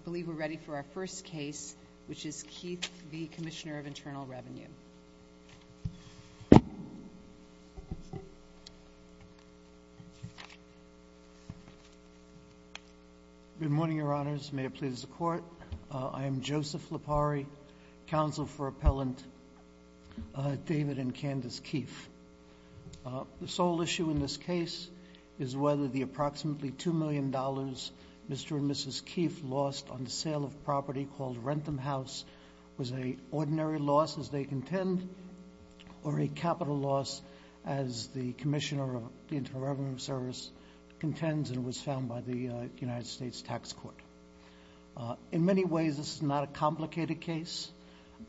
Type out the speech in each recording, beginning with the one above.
I believe we're ready for our first case, which is Keefe v. Commissioner of Internal Revenue. Good morning, Your Honors, may it please the Court, I am Joseph Lipari, Counsel for Appellant David and Candace Keefe. The sole issue in this case is whether the approximately $2 million Mr. and Mrs. Keefe lost on the sale of property called Rentham House was an ordinary loss as they contend or a capital loss as the Commissioner of the Internal Revenue Service contends and was found by the United States Tax Court. In many ways this is not a complicated case,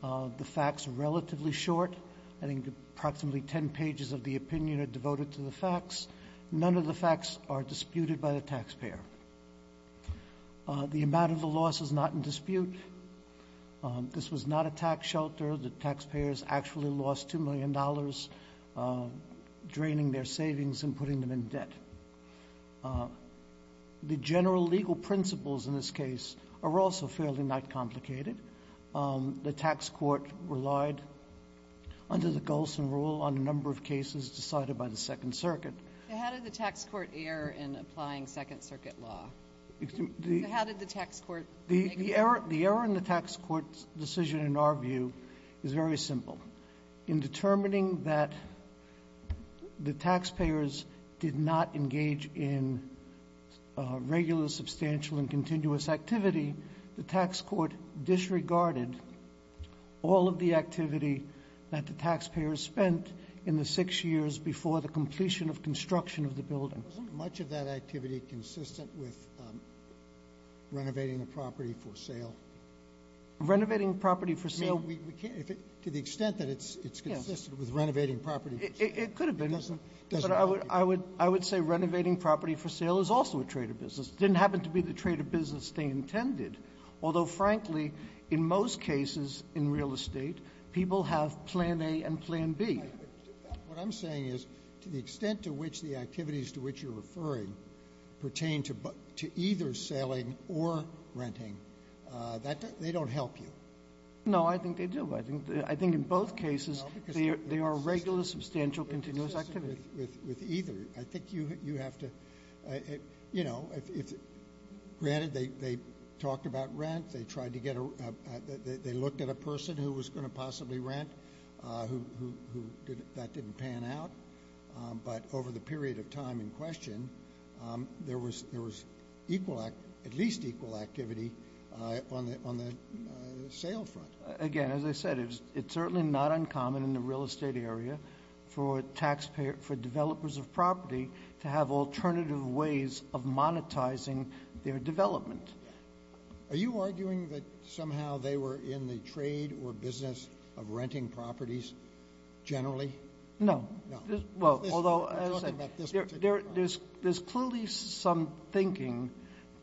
the facts are relatively short, I think approximately ten pages of the opinion are devoted to the facts, none of the facts are disputed by the taxpayer. The amount of the loss is not in dispute, this was not a tax shelter, the taxpayers actually lost $2 million draining their savings and putting them in debt. The general legal principles in this case are also fairly not complicated, the tax court relied under the Golsan Rule on a number of cases decided by the Second Circuit. So how did the tax court err in applying Second Circuit law, so how did the tax court make a decision? The error in the tax court's decision in our view is very simple. In determining that the taxpayers did not engage in regular substantial and continuous activity, the tax court disregarded all of the activity that the taxpayers spent in the six years before the completion of construction of the building. Sotomayor, was much of that activity consistent with renovating a property for sale? Renovating property for sale? To the extent that it's consistent with renovating property for sale. It could have been, but I would say renovating property for sale is also a trade of business. It didn't happen to be the trade of business they intended, although, frankly, in most cases in real estate, people have Plan A and Plan B. What I'm saying is to the extent to which the activities to which you're referring pertain to either selling or renting, that they don't help you. No, I think they do. I think in both cases they are regular substantial continuous activity. With either. I think you have to, you know, granted they talked about rent, they tried to get a – they didn't pan out, but over the period of time in question, there was at least equal activity on the sale front. Again, as I said, it's certainly not uncommon in the real estate area for developers of property to have alternative ways of monetizing their development. Are you arguing that somehow they were in the trade or business of renting properties generally? No. No. Well, although, as I said, there's clearly some thinking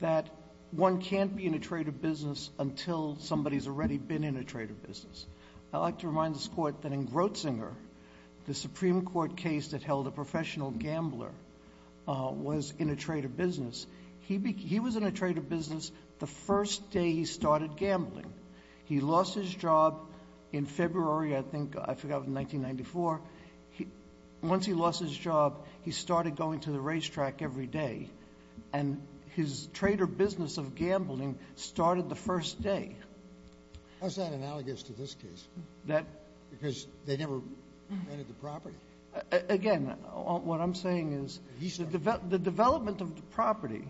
that one can't be in a trade of business until somebody's already been in a trade of business. I'd like to remind this Court that in Grotzinger, the Supreme Court case that held a professional gambler was in a trade of business. He was in a trade of business the first day he started gambling. He lost his job in February, I think, I forgot if it was 1994. Once he lost his job, he started going to the racetrack every day, and his trade or business of gambling started the first day. How's that analogous to this case? Because they never rented the property. Again, what I'm saying is the development of the property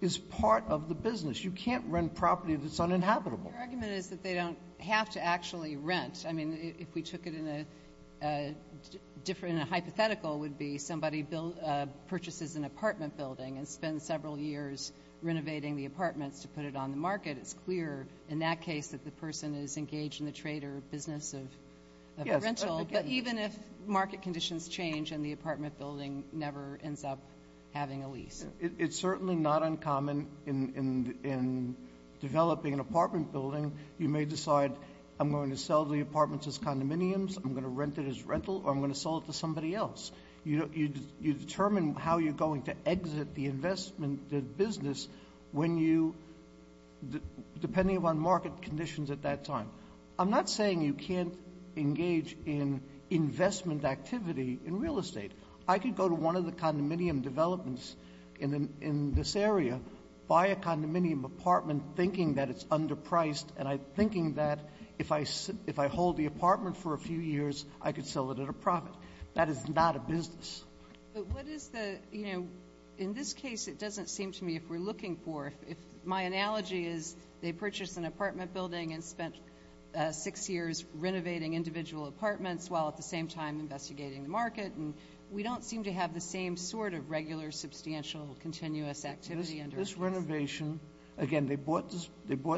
is part of the business. You can't rent property that's uninhabitable. Your argument is that they don't have to actually rent. I mean, if we took it in a different hypothetical, it would be somebody purchases an apartment building and spends several years renovating the apartments to put it on the market. It's clear in that case that the person is engaged in the trade or business of rental. But even if market conditions change and the apartment building never ends up having a lease. It's certainly not uncommon in developing an apartment building. You may decide, I'm going to sell the apartment as condominiums, I'm going to rent it as rental, or I'm going to sell it to somebody else. You determine how you're going to exit the investment, the business, when you, depending on market conditions at that time. I'm not saying you can't engage in investment activity in real estate. I could go to one of the condominium developments in this area, buy a condominium apartment thinking that it's underpriced, and I'm thinking that if I hold the apartment for a few years, I could sell it at a profit. That is not a business. But what is the, in this case, it doesn't seem to me if we're looking for, if my analogy is they purchased an apartment building and spent six years renovating individual apartments while at the same time investigating the market. And we don't seem to have the same sort of regular substantial continuous activity under this. This renovation, again, they bought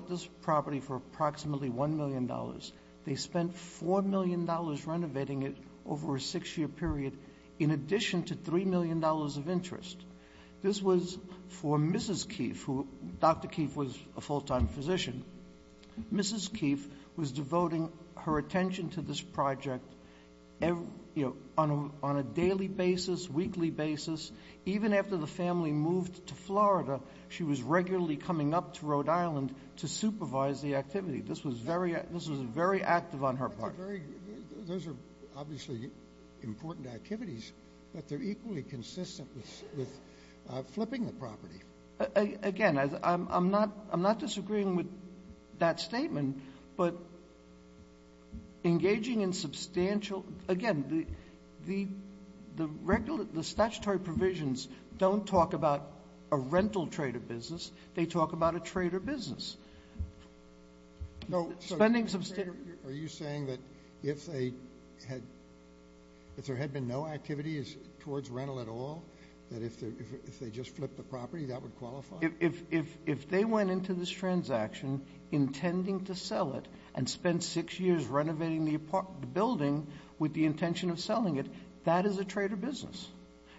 this property for approximately $1 million. They spent $4 million renovating it over a six year period in addition to $3 million of interest. This was for Mrs. Keefe, who, Dr. Keefe was a full time physician. Mrs. Keefe was devoting her attention to this project on a daily basis, weekly basis, even after the family moved to Florida. She was regularly coming up to Rhode Island to supervise the activity. This was very active on her part. Those are obviously important activities, but they're equally consistent with flipping the property. Again, I'm not disagreeing with that statement, but engaging in substantial, again, the statutory provisions don't talk about a rental trade or business, they talk about a trade or business. No, so- Spending some- Are you saying that if there had been no activities towards rental at all, that if they just flipped the property, that would qualify? If they went into this transaction intending to sell it and spend six years renovating the building with the intention of selling it, that is a trade or business.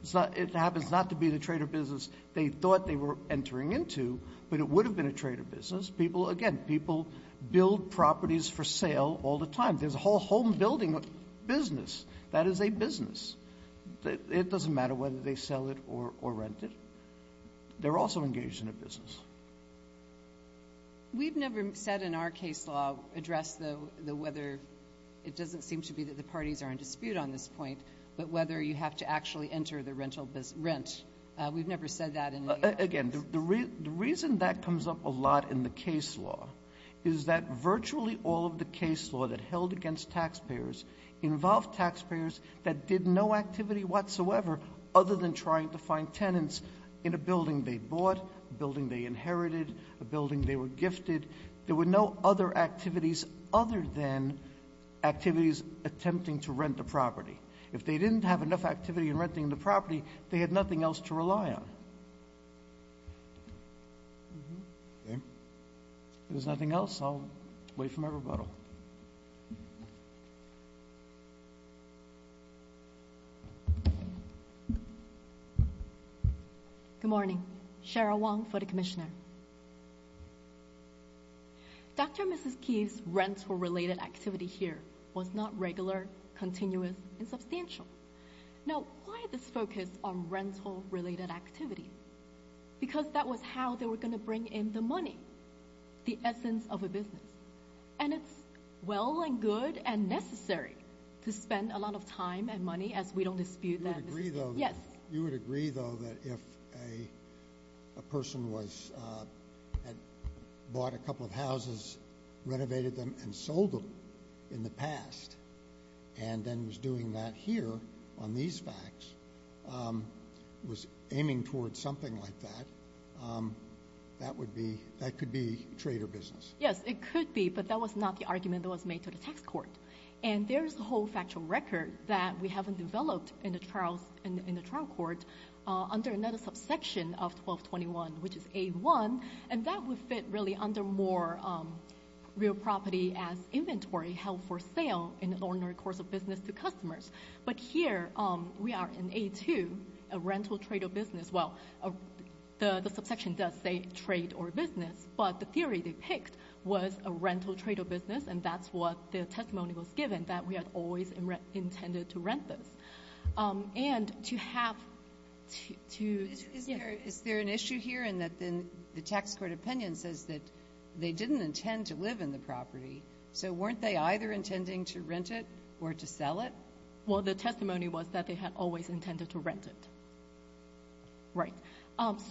It happens not to be the trade or business they thought they were entering into, but it would have been a trade or business. People, again, people build properties for sale all the time. There's a whole home building business. That is a business. It doesn't matter whether they sell it or rent it. They're also engaged in a business. We've never said in our case law address the whether, it doesn't seem to be that the parties are in dispute on this point, but whether you have to actually enter the rental rent. We've never said that in the- Again, the reason that comes up a lot in the case law is that virtually all of the case law that held against taxpayers involved taxpayers that did no activity whatsoever other than trying to find tenants in a building they bought, a building they inherited, a building they were gifted. There were no other activities other than activities attempting to rent the property. If they didn't have enough activity in renting the property, they had nothing else to rely on. If there's nothing else, I'll wait for my rebuttal. Good morning. Cheryl Wong for the commissioner. Dr. and Mrs. Keefe's rental-related activity here was not regular, continuous, and substantial. Now, why this focus on rental-related activity? Because that was how they were going to bring in the money, the essence of a business. And it's well and good and necessary to spend a lot of time and money as we don't dispute that. You would agree, though, that if a person had bought a couple of houses, renovated them, and sold them in the past, and then was doing that here on these facts, was aiming towards something like that, that could be trade or business. Yes, it could be, but that was not the argument that was made to the tax court. And there's a whole factual record that we haven't developed in the trial court under another subsection of 1221, which is A1. And that would fit really under more real property as inventory held for sale in an ordinary course of business to customers. But here, we are in A2, a rental trade or business. Well, the subsection does say trade or business, but the theory they picked was a rental trade or business, and that's what the testimony was given, that we had always intended to rent this. And to have to... Is there an issue here in that the tax court opinion says that they didn't intend to live in the property, so weren't they either intending to rent it or to sell it? Well, the testimony was that they had always intended to rent it. Right.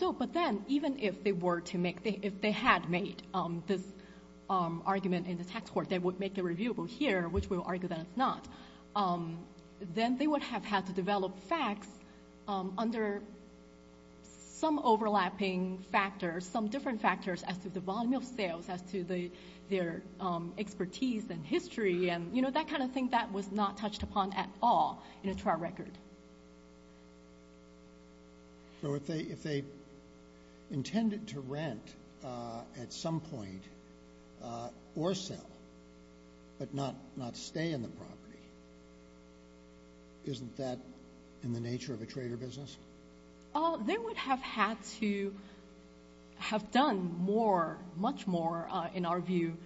So, but then, even if they were to make... If they had made this argument in the tax court, they would make it reviewable here, which we'll argue that it's not. Then they would have had to develop facts under some overlapping factors, some different factors as to the volume of sales, as to their expertise and history, and, you know, that kind of thing that was not touched upon at all in a trial record. So if they intended to rent at some point or sell, but not stay in the property, isn't that in the nature of a trade or business? They would have had to have done more, much more, in our view,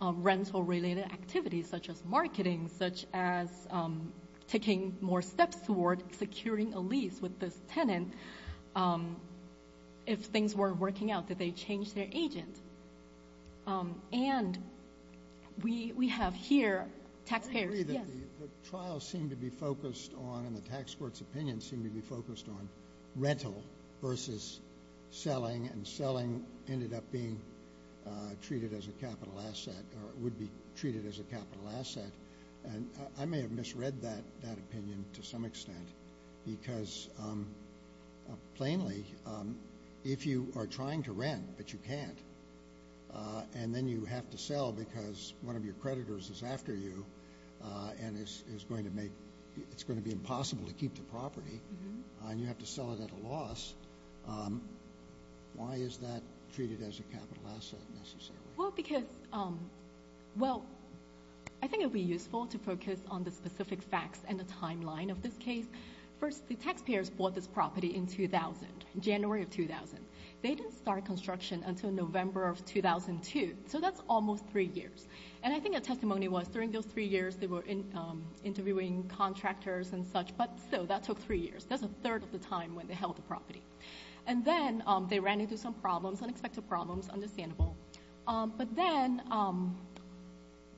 rental-related activities, such as marketing, such as taking more steps toward securing a lease with this tenant. If things weren't working out, did they change their agent? And we have here taxpayers... I agree that the trial seemed to be focused on, and the tax court's opinion seemed to be focused on, and I may have misread that opinion to some extent, because, plainly, if you are trying to rent, but you can't, and then you have to sell because one of your creditors is after you and it's going to be impossible to keep the property, and you have to sell it at a loss, why is that treated as a capital asset, necessarily? Well, I think it would be useful to focus on the specific facts and the timeline of this case. First, the taxpayers bought this property in 2000, January of 2000. They didn't start construction until November of 2002, so that's almost three years. And I think the testimony was, during those three years, they were interviewing contractors and such, but still, that took three years. That's a third of the time when they held the property. And then they ran into some problems, unexpected problems, understandable. But then,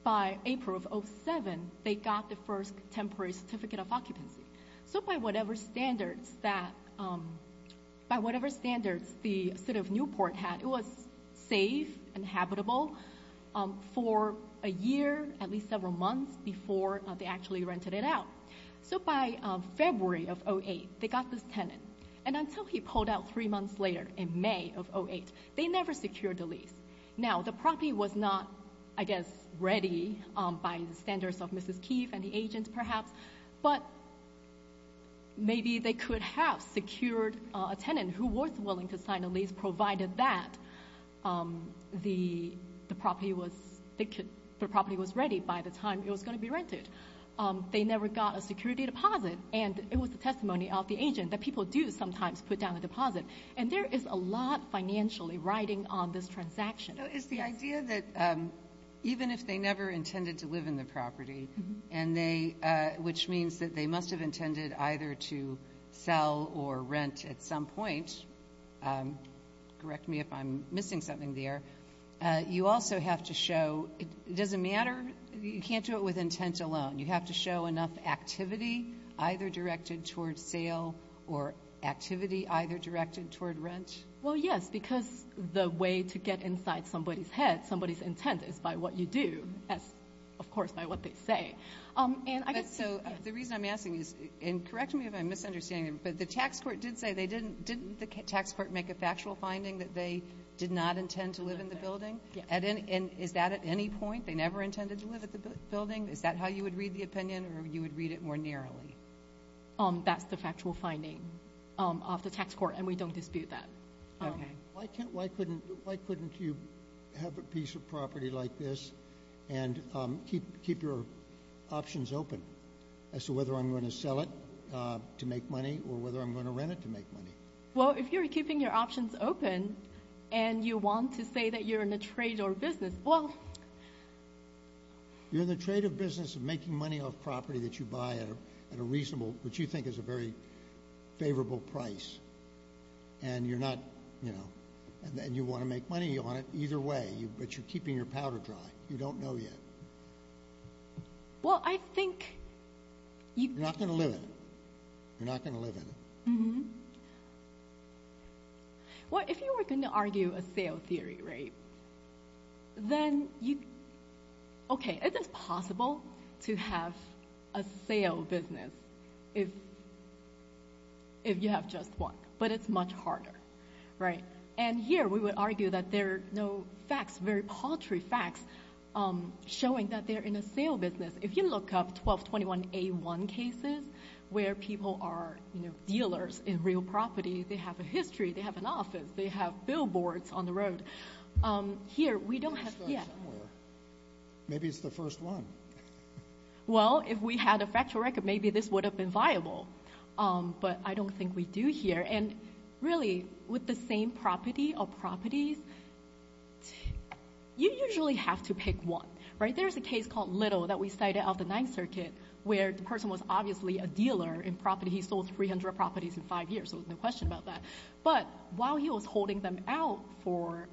by April of 2007, they got the first temporary certificate of occupancy. So, by whatever standards that... By whatever standards the city of Newport had, it was safe and habitable for a year, at least several months, before they actually rented it out. So, by February of 2008, they got this tenant. And until he pulled out three months later, in May of 2008, they never secured the lease. Now, the property was not, I guess, ready by the standards of Mrs. Keefe and the agent, perhaps, but maybe they could have secured a tenant who was willing to sign a lease, provided that the property was ready by the time it was going to be rented. They never got a security deposit. And it was the testimony of the agent that people do sometimes put down a deposit. And there is a lot financially riding on this transaction. So, it's the idea that even if they never intended to live in the property, which means that they must have intended either to sell or rent at some point, correct me if I'm missing something there, you also have to show, it doesn't matter, you can't do it with intent alone. You have to show enough activity, either directed towards sale, or activity either directed toward rent. Well, yes, because the way to get inside somebody's head, somebody's intent, is by what you do, as, of course, by what they say. And I guess so, the reason I'm asking is, and correct me if I'm misunderstanding, but the tax court did say they didn't, didn't the tax court make a factual finding that they did not intend to live in the building? Is that at any point? They never intended to live at the building? Is that how you would read the opinion, or you would read it more narrowly? That's the factual finding of the tax court, and we don't dispute that. Why couldn't you have a piece of property like this and keep your options open as to whether I'm going to sell it to make money or whether I'm going to rent it to make money? Well, if you're keeping your options open, and you want to say that you're in a trade or business, well... You're in the trade or business of making money off property that you buy at a reasonable, which you think is a very favorable price, and you're not, you know, and you want to make money on it either way, but you're keeping your powder dry. You don't know yet. Well, I think... You're not going to live in it. You're not going to live in it. Well, if you were going to argue a sale theory, right, then you... Okay, it is possible to have a sale business if you have just one, but it's much harder, right? And here, we would argue that there are no facts, very paltry facts, showing that they're in a sale business. If you look up 1221A1 cases where people are, you know, dealers in real property, they have a history. They have an office. They have billboards on the road. Here, we don't have... Maybe it's the first one. Well, if we had a factual record, maybe this would have been viable, but I don't think we do here. And really, with the same property or properties, you usually have to pick one, right? There's a case called Little that we cited of the Ninth Circuit where the person was obviously a dealer in property. He sold 300 properties in five years, so there's no question about that. But while he was holding them out for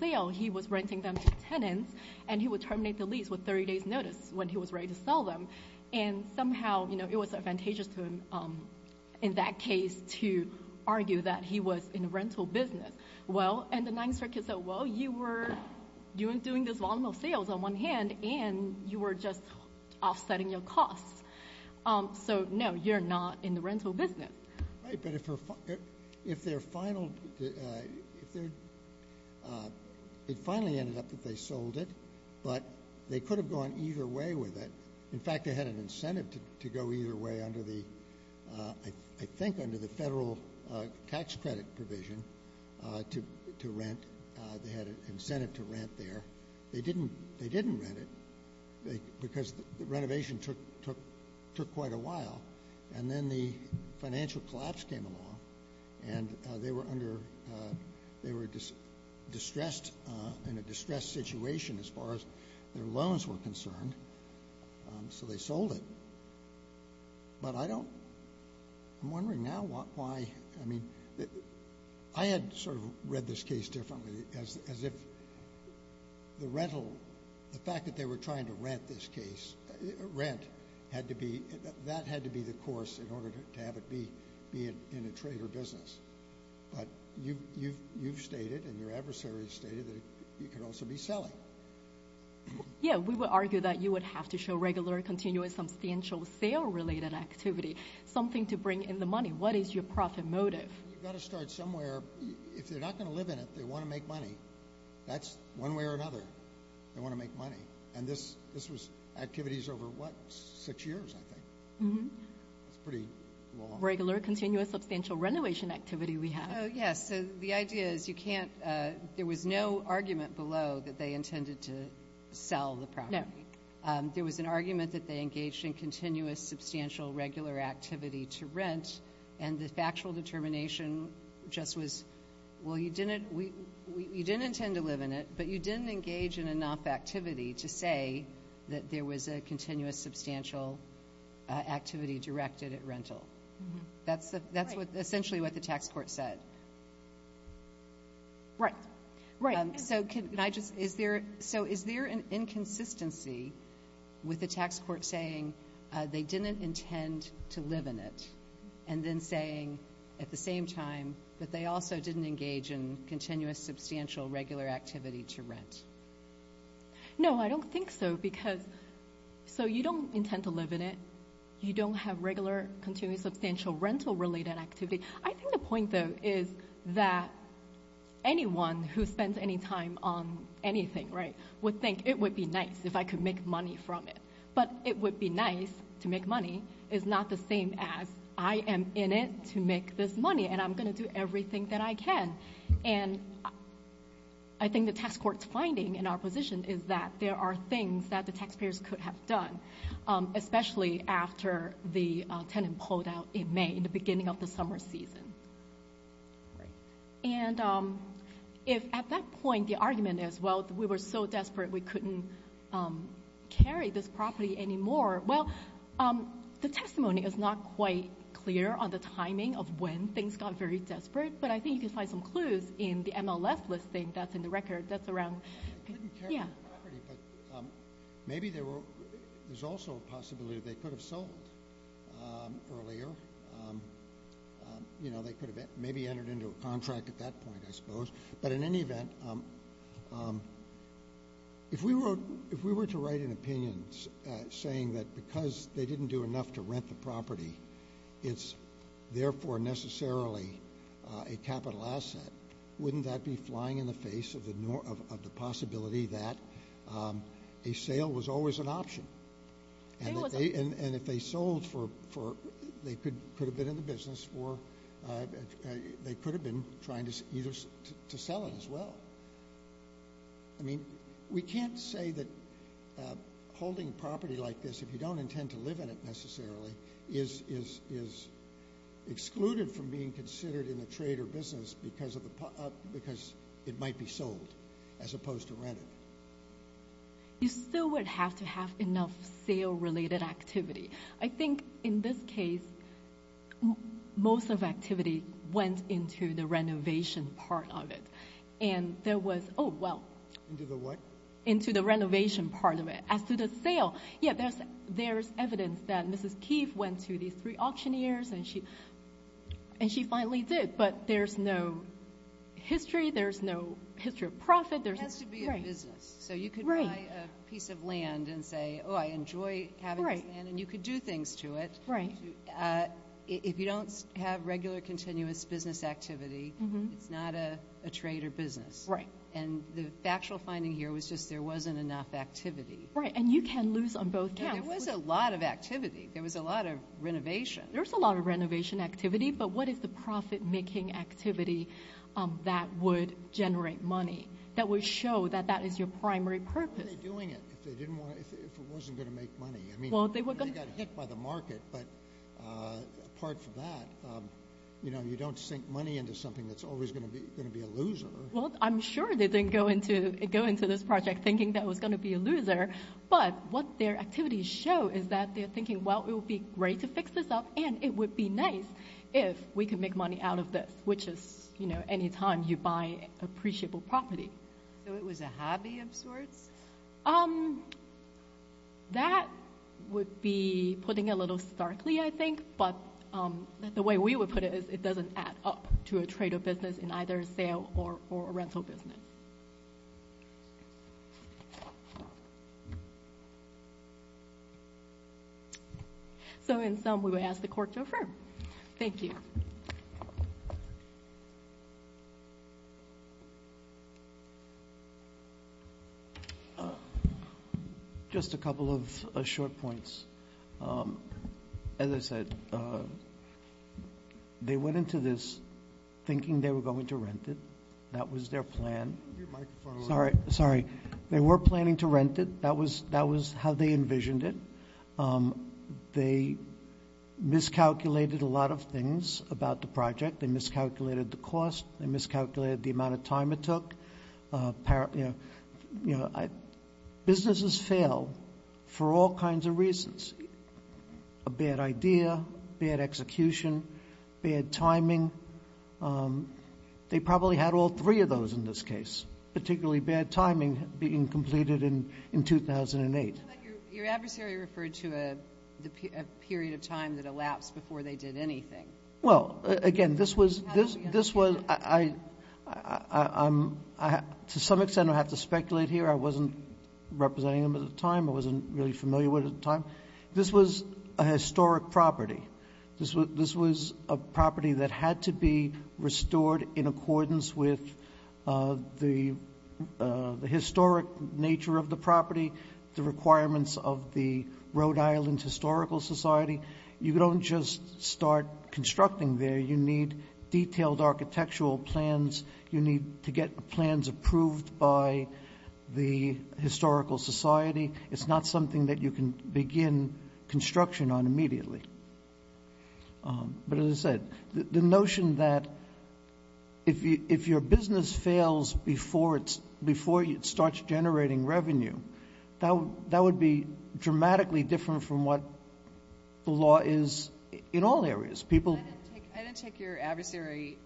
sale, he was renting them to tenants and he would terminate the lease with 30 days notice when he was ready to sell them. And somehow, you know, it was advantageous to him in that case to argue that he was in a rental business. Well, and the Ninth Circuit said, well, you weren't doing this volume of sales on one hand and you were just offsetting your costs. So no, you're not in the rental business. Right, but if they're final... It finally ended up that they sold it, but they could have gone either way with it. In fact, they had an incentive to go either way under the... I think under the federal tax credit provision to rent, they had an incentive to rent there. They didn't rent it because the renovation took quite a while and then the financial collapse came along and they were distressed in a distressed situation as far as their loans were concerned, so they sold it. But I don't... I'm wondering now why... I had sort of read this case differently as if the rental... The fact that they were trying to rent this case, rent, that had to be the course in order to have it be in a trader business. But you've stated and your adversaries stated that you could also be selling. Yeah, we would argue that you would have to show regular continuous substantial sale-related activity, something to bring in the money. What is your profit motive? You've got to start somewhere. If they're not going to live in it, they want to make money. That's one way or another. They want to make money. And this was activities over, what, six years, I think. It's pretty long. Regular continuous substantial renovation activity we have. Yes, so the idea is you can't... There was no argument below that they intended to sell the property. There was an argument that they engaged in continuous substantial regular activity to rent and the factual determination just was, well, you didn't intend to live in it, but you didn't engage in enough activity to say that there was a continuous substantial activity directed at rental. That's essentially what the tax court said. Right, right. So can I just... Is there an inconsistency with the tax court saying they didn't intend to live in it and then saying at the same time that they also didn't engage in continuous substantial regular activity to rent? No, I don't think so because... So you don't intend to live in it. You don't have regular continuous substantial rental related activity. I think the point though is that anyone who spends any time on anything, right, would think it would be nice if I could make money from it. But it would be nice to make money is not the same as I am in it to make this money and I'm going to do everything that I can. And I think the tax court's finding in our position is that there are things that the taxpayers could have done, especially after the tenant pulled out in May, in the beginning of the summer season. And if at that point the argument is, well, we were so desperate, we couldn't carry this property anymore. Well, the testimony is not quite clear on the timing of when things got very desperate, but I think you can find some clues in the MLS listing that's in the record. That's around... I couldn't carry the property, but maybe there's also a possibility they could have sold earlier. You know, they could have maybe entered into a contract at that point, I suppose. But in any event, if we were to write an opinion saying that because they didn't do enough to rent the property, it's therefore necessarily a capital asset, wouldn't that be flying in the face of the possibility that a sale was always an option? And if they sold for... They could have been in the business for... They could have been trying to sell it as well. But I mean, we can't say that holding property like this, if you don't intend to live in it necessarily, is excluded from being considered in a trade or business because it might be sold as opposed to rented. You still would have to have enough sale-related activity. I think in this case, most of activity went into the renovation part of it. And there was... Oh, well. Into the what? Into the renovation part of it. As to the sale, yeah, there's evidence that Mrs. Keefe went to these three auctioneers and she finally did, but there's no history, there's no history of profit. There has to be a business. So you could buy a piece of land and say, oh, I enjoy having this land. And you could do things to it. If you don't have regular continuous business activity, it's not a trade or business. Right. And the factual finding here was just there wasn't enough activity. Right, and you can lose on both counts. There was a lot of activity. There was a lot of renovation. There was a lot of renovation activity, but what is the profit-making activity that would generate money, that would show that that is your primary purpose? What are they doing if it wasn't going to make money? I mean, they got hit by the market, but apart from that, you don't sink money into something that's always gonna be a loser. Well, I'm sure they didn't go into this project thinking that it was gonna be a loser, but what their activities show is that they're thinking, well, it would be great to fix this up and it would be nice if we can make money out of this, which is anytime you buy appreciable property. That would be putting a little starkly, I think, but the way we would put it is it doesn't add up to a trade or business in either a sale or a rental business. So in sum, we would ask the court to affirm. Thank you. Just a couple of short points. As I said, they went into this thinking they were going to rent it. That was their plan. Sorry, they were planning to rent it. That was how they envisioned it. They miscalculated a lot of things about the project. They miscalculated the cost. They miscalculated the amount of time it took. You know, businesses fail for all kinds of reasons. A bad idea, bad execution, bad timing. They probably had all three of those in this case, particularly bad timing being completed in 2008. But your adversary referred to a period of time that elapsed before they did anything. Well, again, this was... To some extent, I have to speculate here. I wasn't representing them at the time. I wasn't really familiar with it at the time. This was a historic property. This was a property that had to be restored in accordance with the historic nature of the property, the requirements of the Rhode Island Historical Society. You don't just start constructing there. You need detailed architectural plans. You need to get plans approved by the Historical Society. It's not something that you can begin construction on immediately. But as I said, the notion that if your business fails before it starts generating revenue, that would be dramatically different from what the law is in all areas. I didn't take your adversary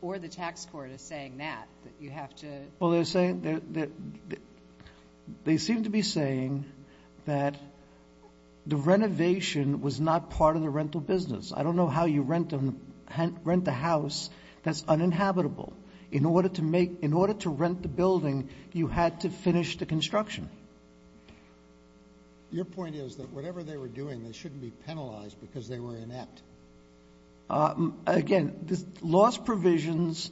or the tax court as saying that, that you have to... Well, they seem to be saying that the renovation was not part of the rental business. I don't know how you rent a house that's uninhabitable. In order to rent the building, you had to finish the construction. Your point is that whatever they were doing, they shouldn't be penalized because they were inept. Again, loss provisions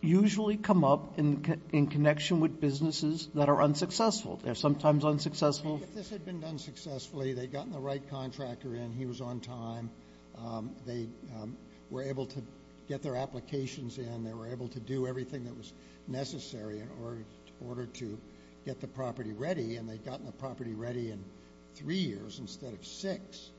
usually come up in connection with businesses that are unsuccessful. They're sometimes unsuccessful... If this had been done successfully, they'd gotten the right contractor in, he was on time, they were able to get their applications in, they were able to do everything that was necessary in order to get the property ready, and they'd gotten the property ready in three years instead of six,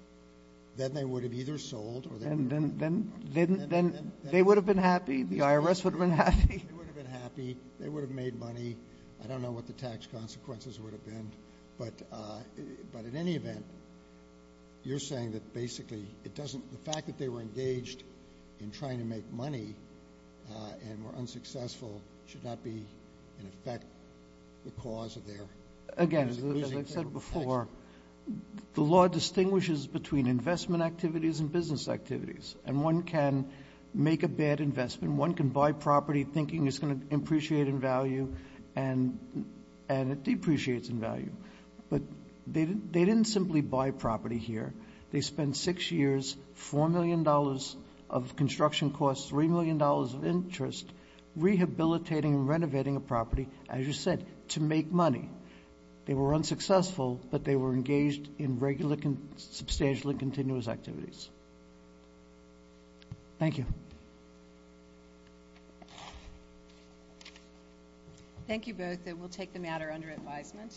then they would have either sold or... And then they would have been happy? The IRS would have been happy? They would have been happy. They would have made money. I don't know what the tax consequences would have been, but in any event, you're saying that basically it doesn't... The fact that they were engaged in trying to make money and were unsuccessful should not be in effect the cause of their... Again, as I said before, the law distinguishes between investment activities and business activities, and one can make a bad investment, one can buy property thinking it's going to be appreciated in value, and it depreciates in value, but they didn't simply buy property here. They spent six years, $4 million of construction costs, $3 million of interest rehabilitating and renovating a property, as you said, to make money. They were unsuccessful, but they were engaged in regular, substantially continuous activities. Thank you. Thank you both. We'll take the matter under advisement.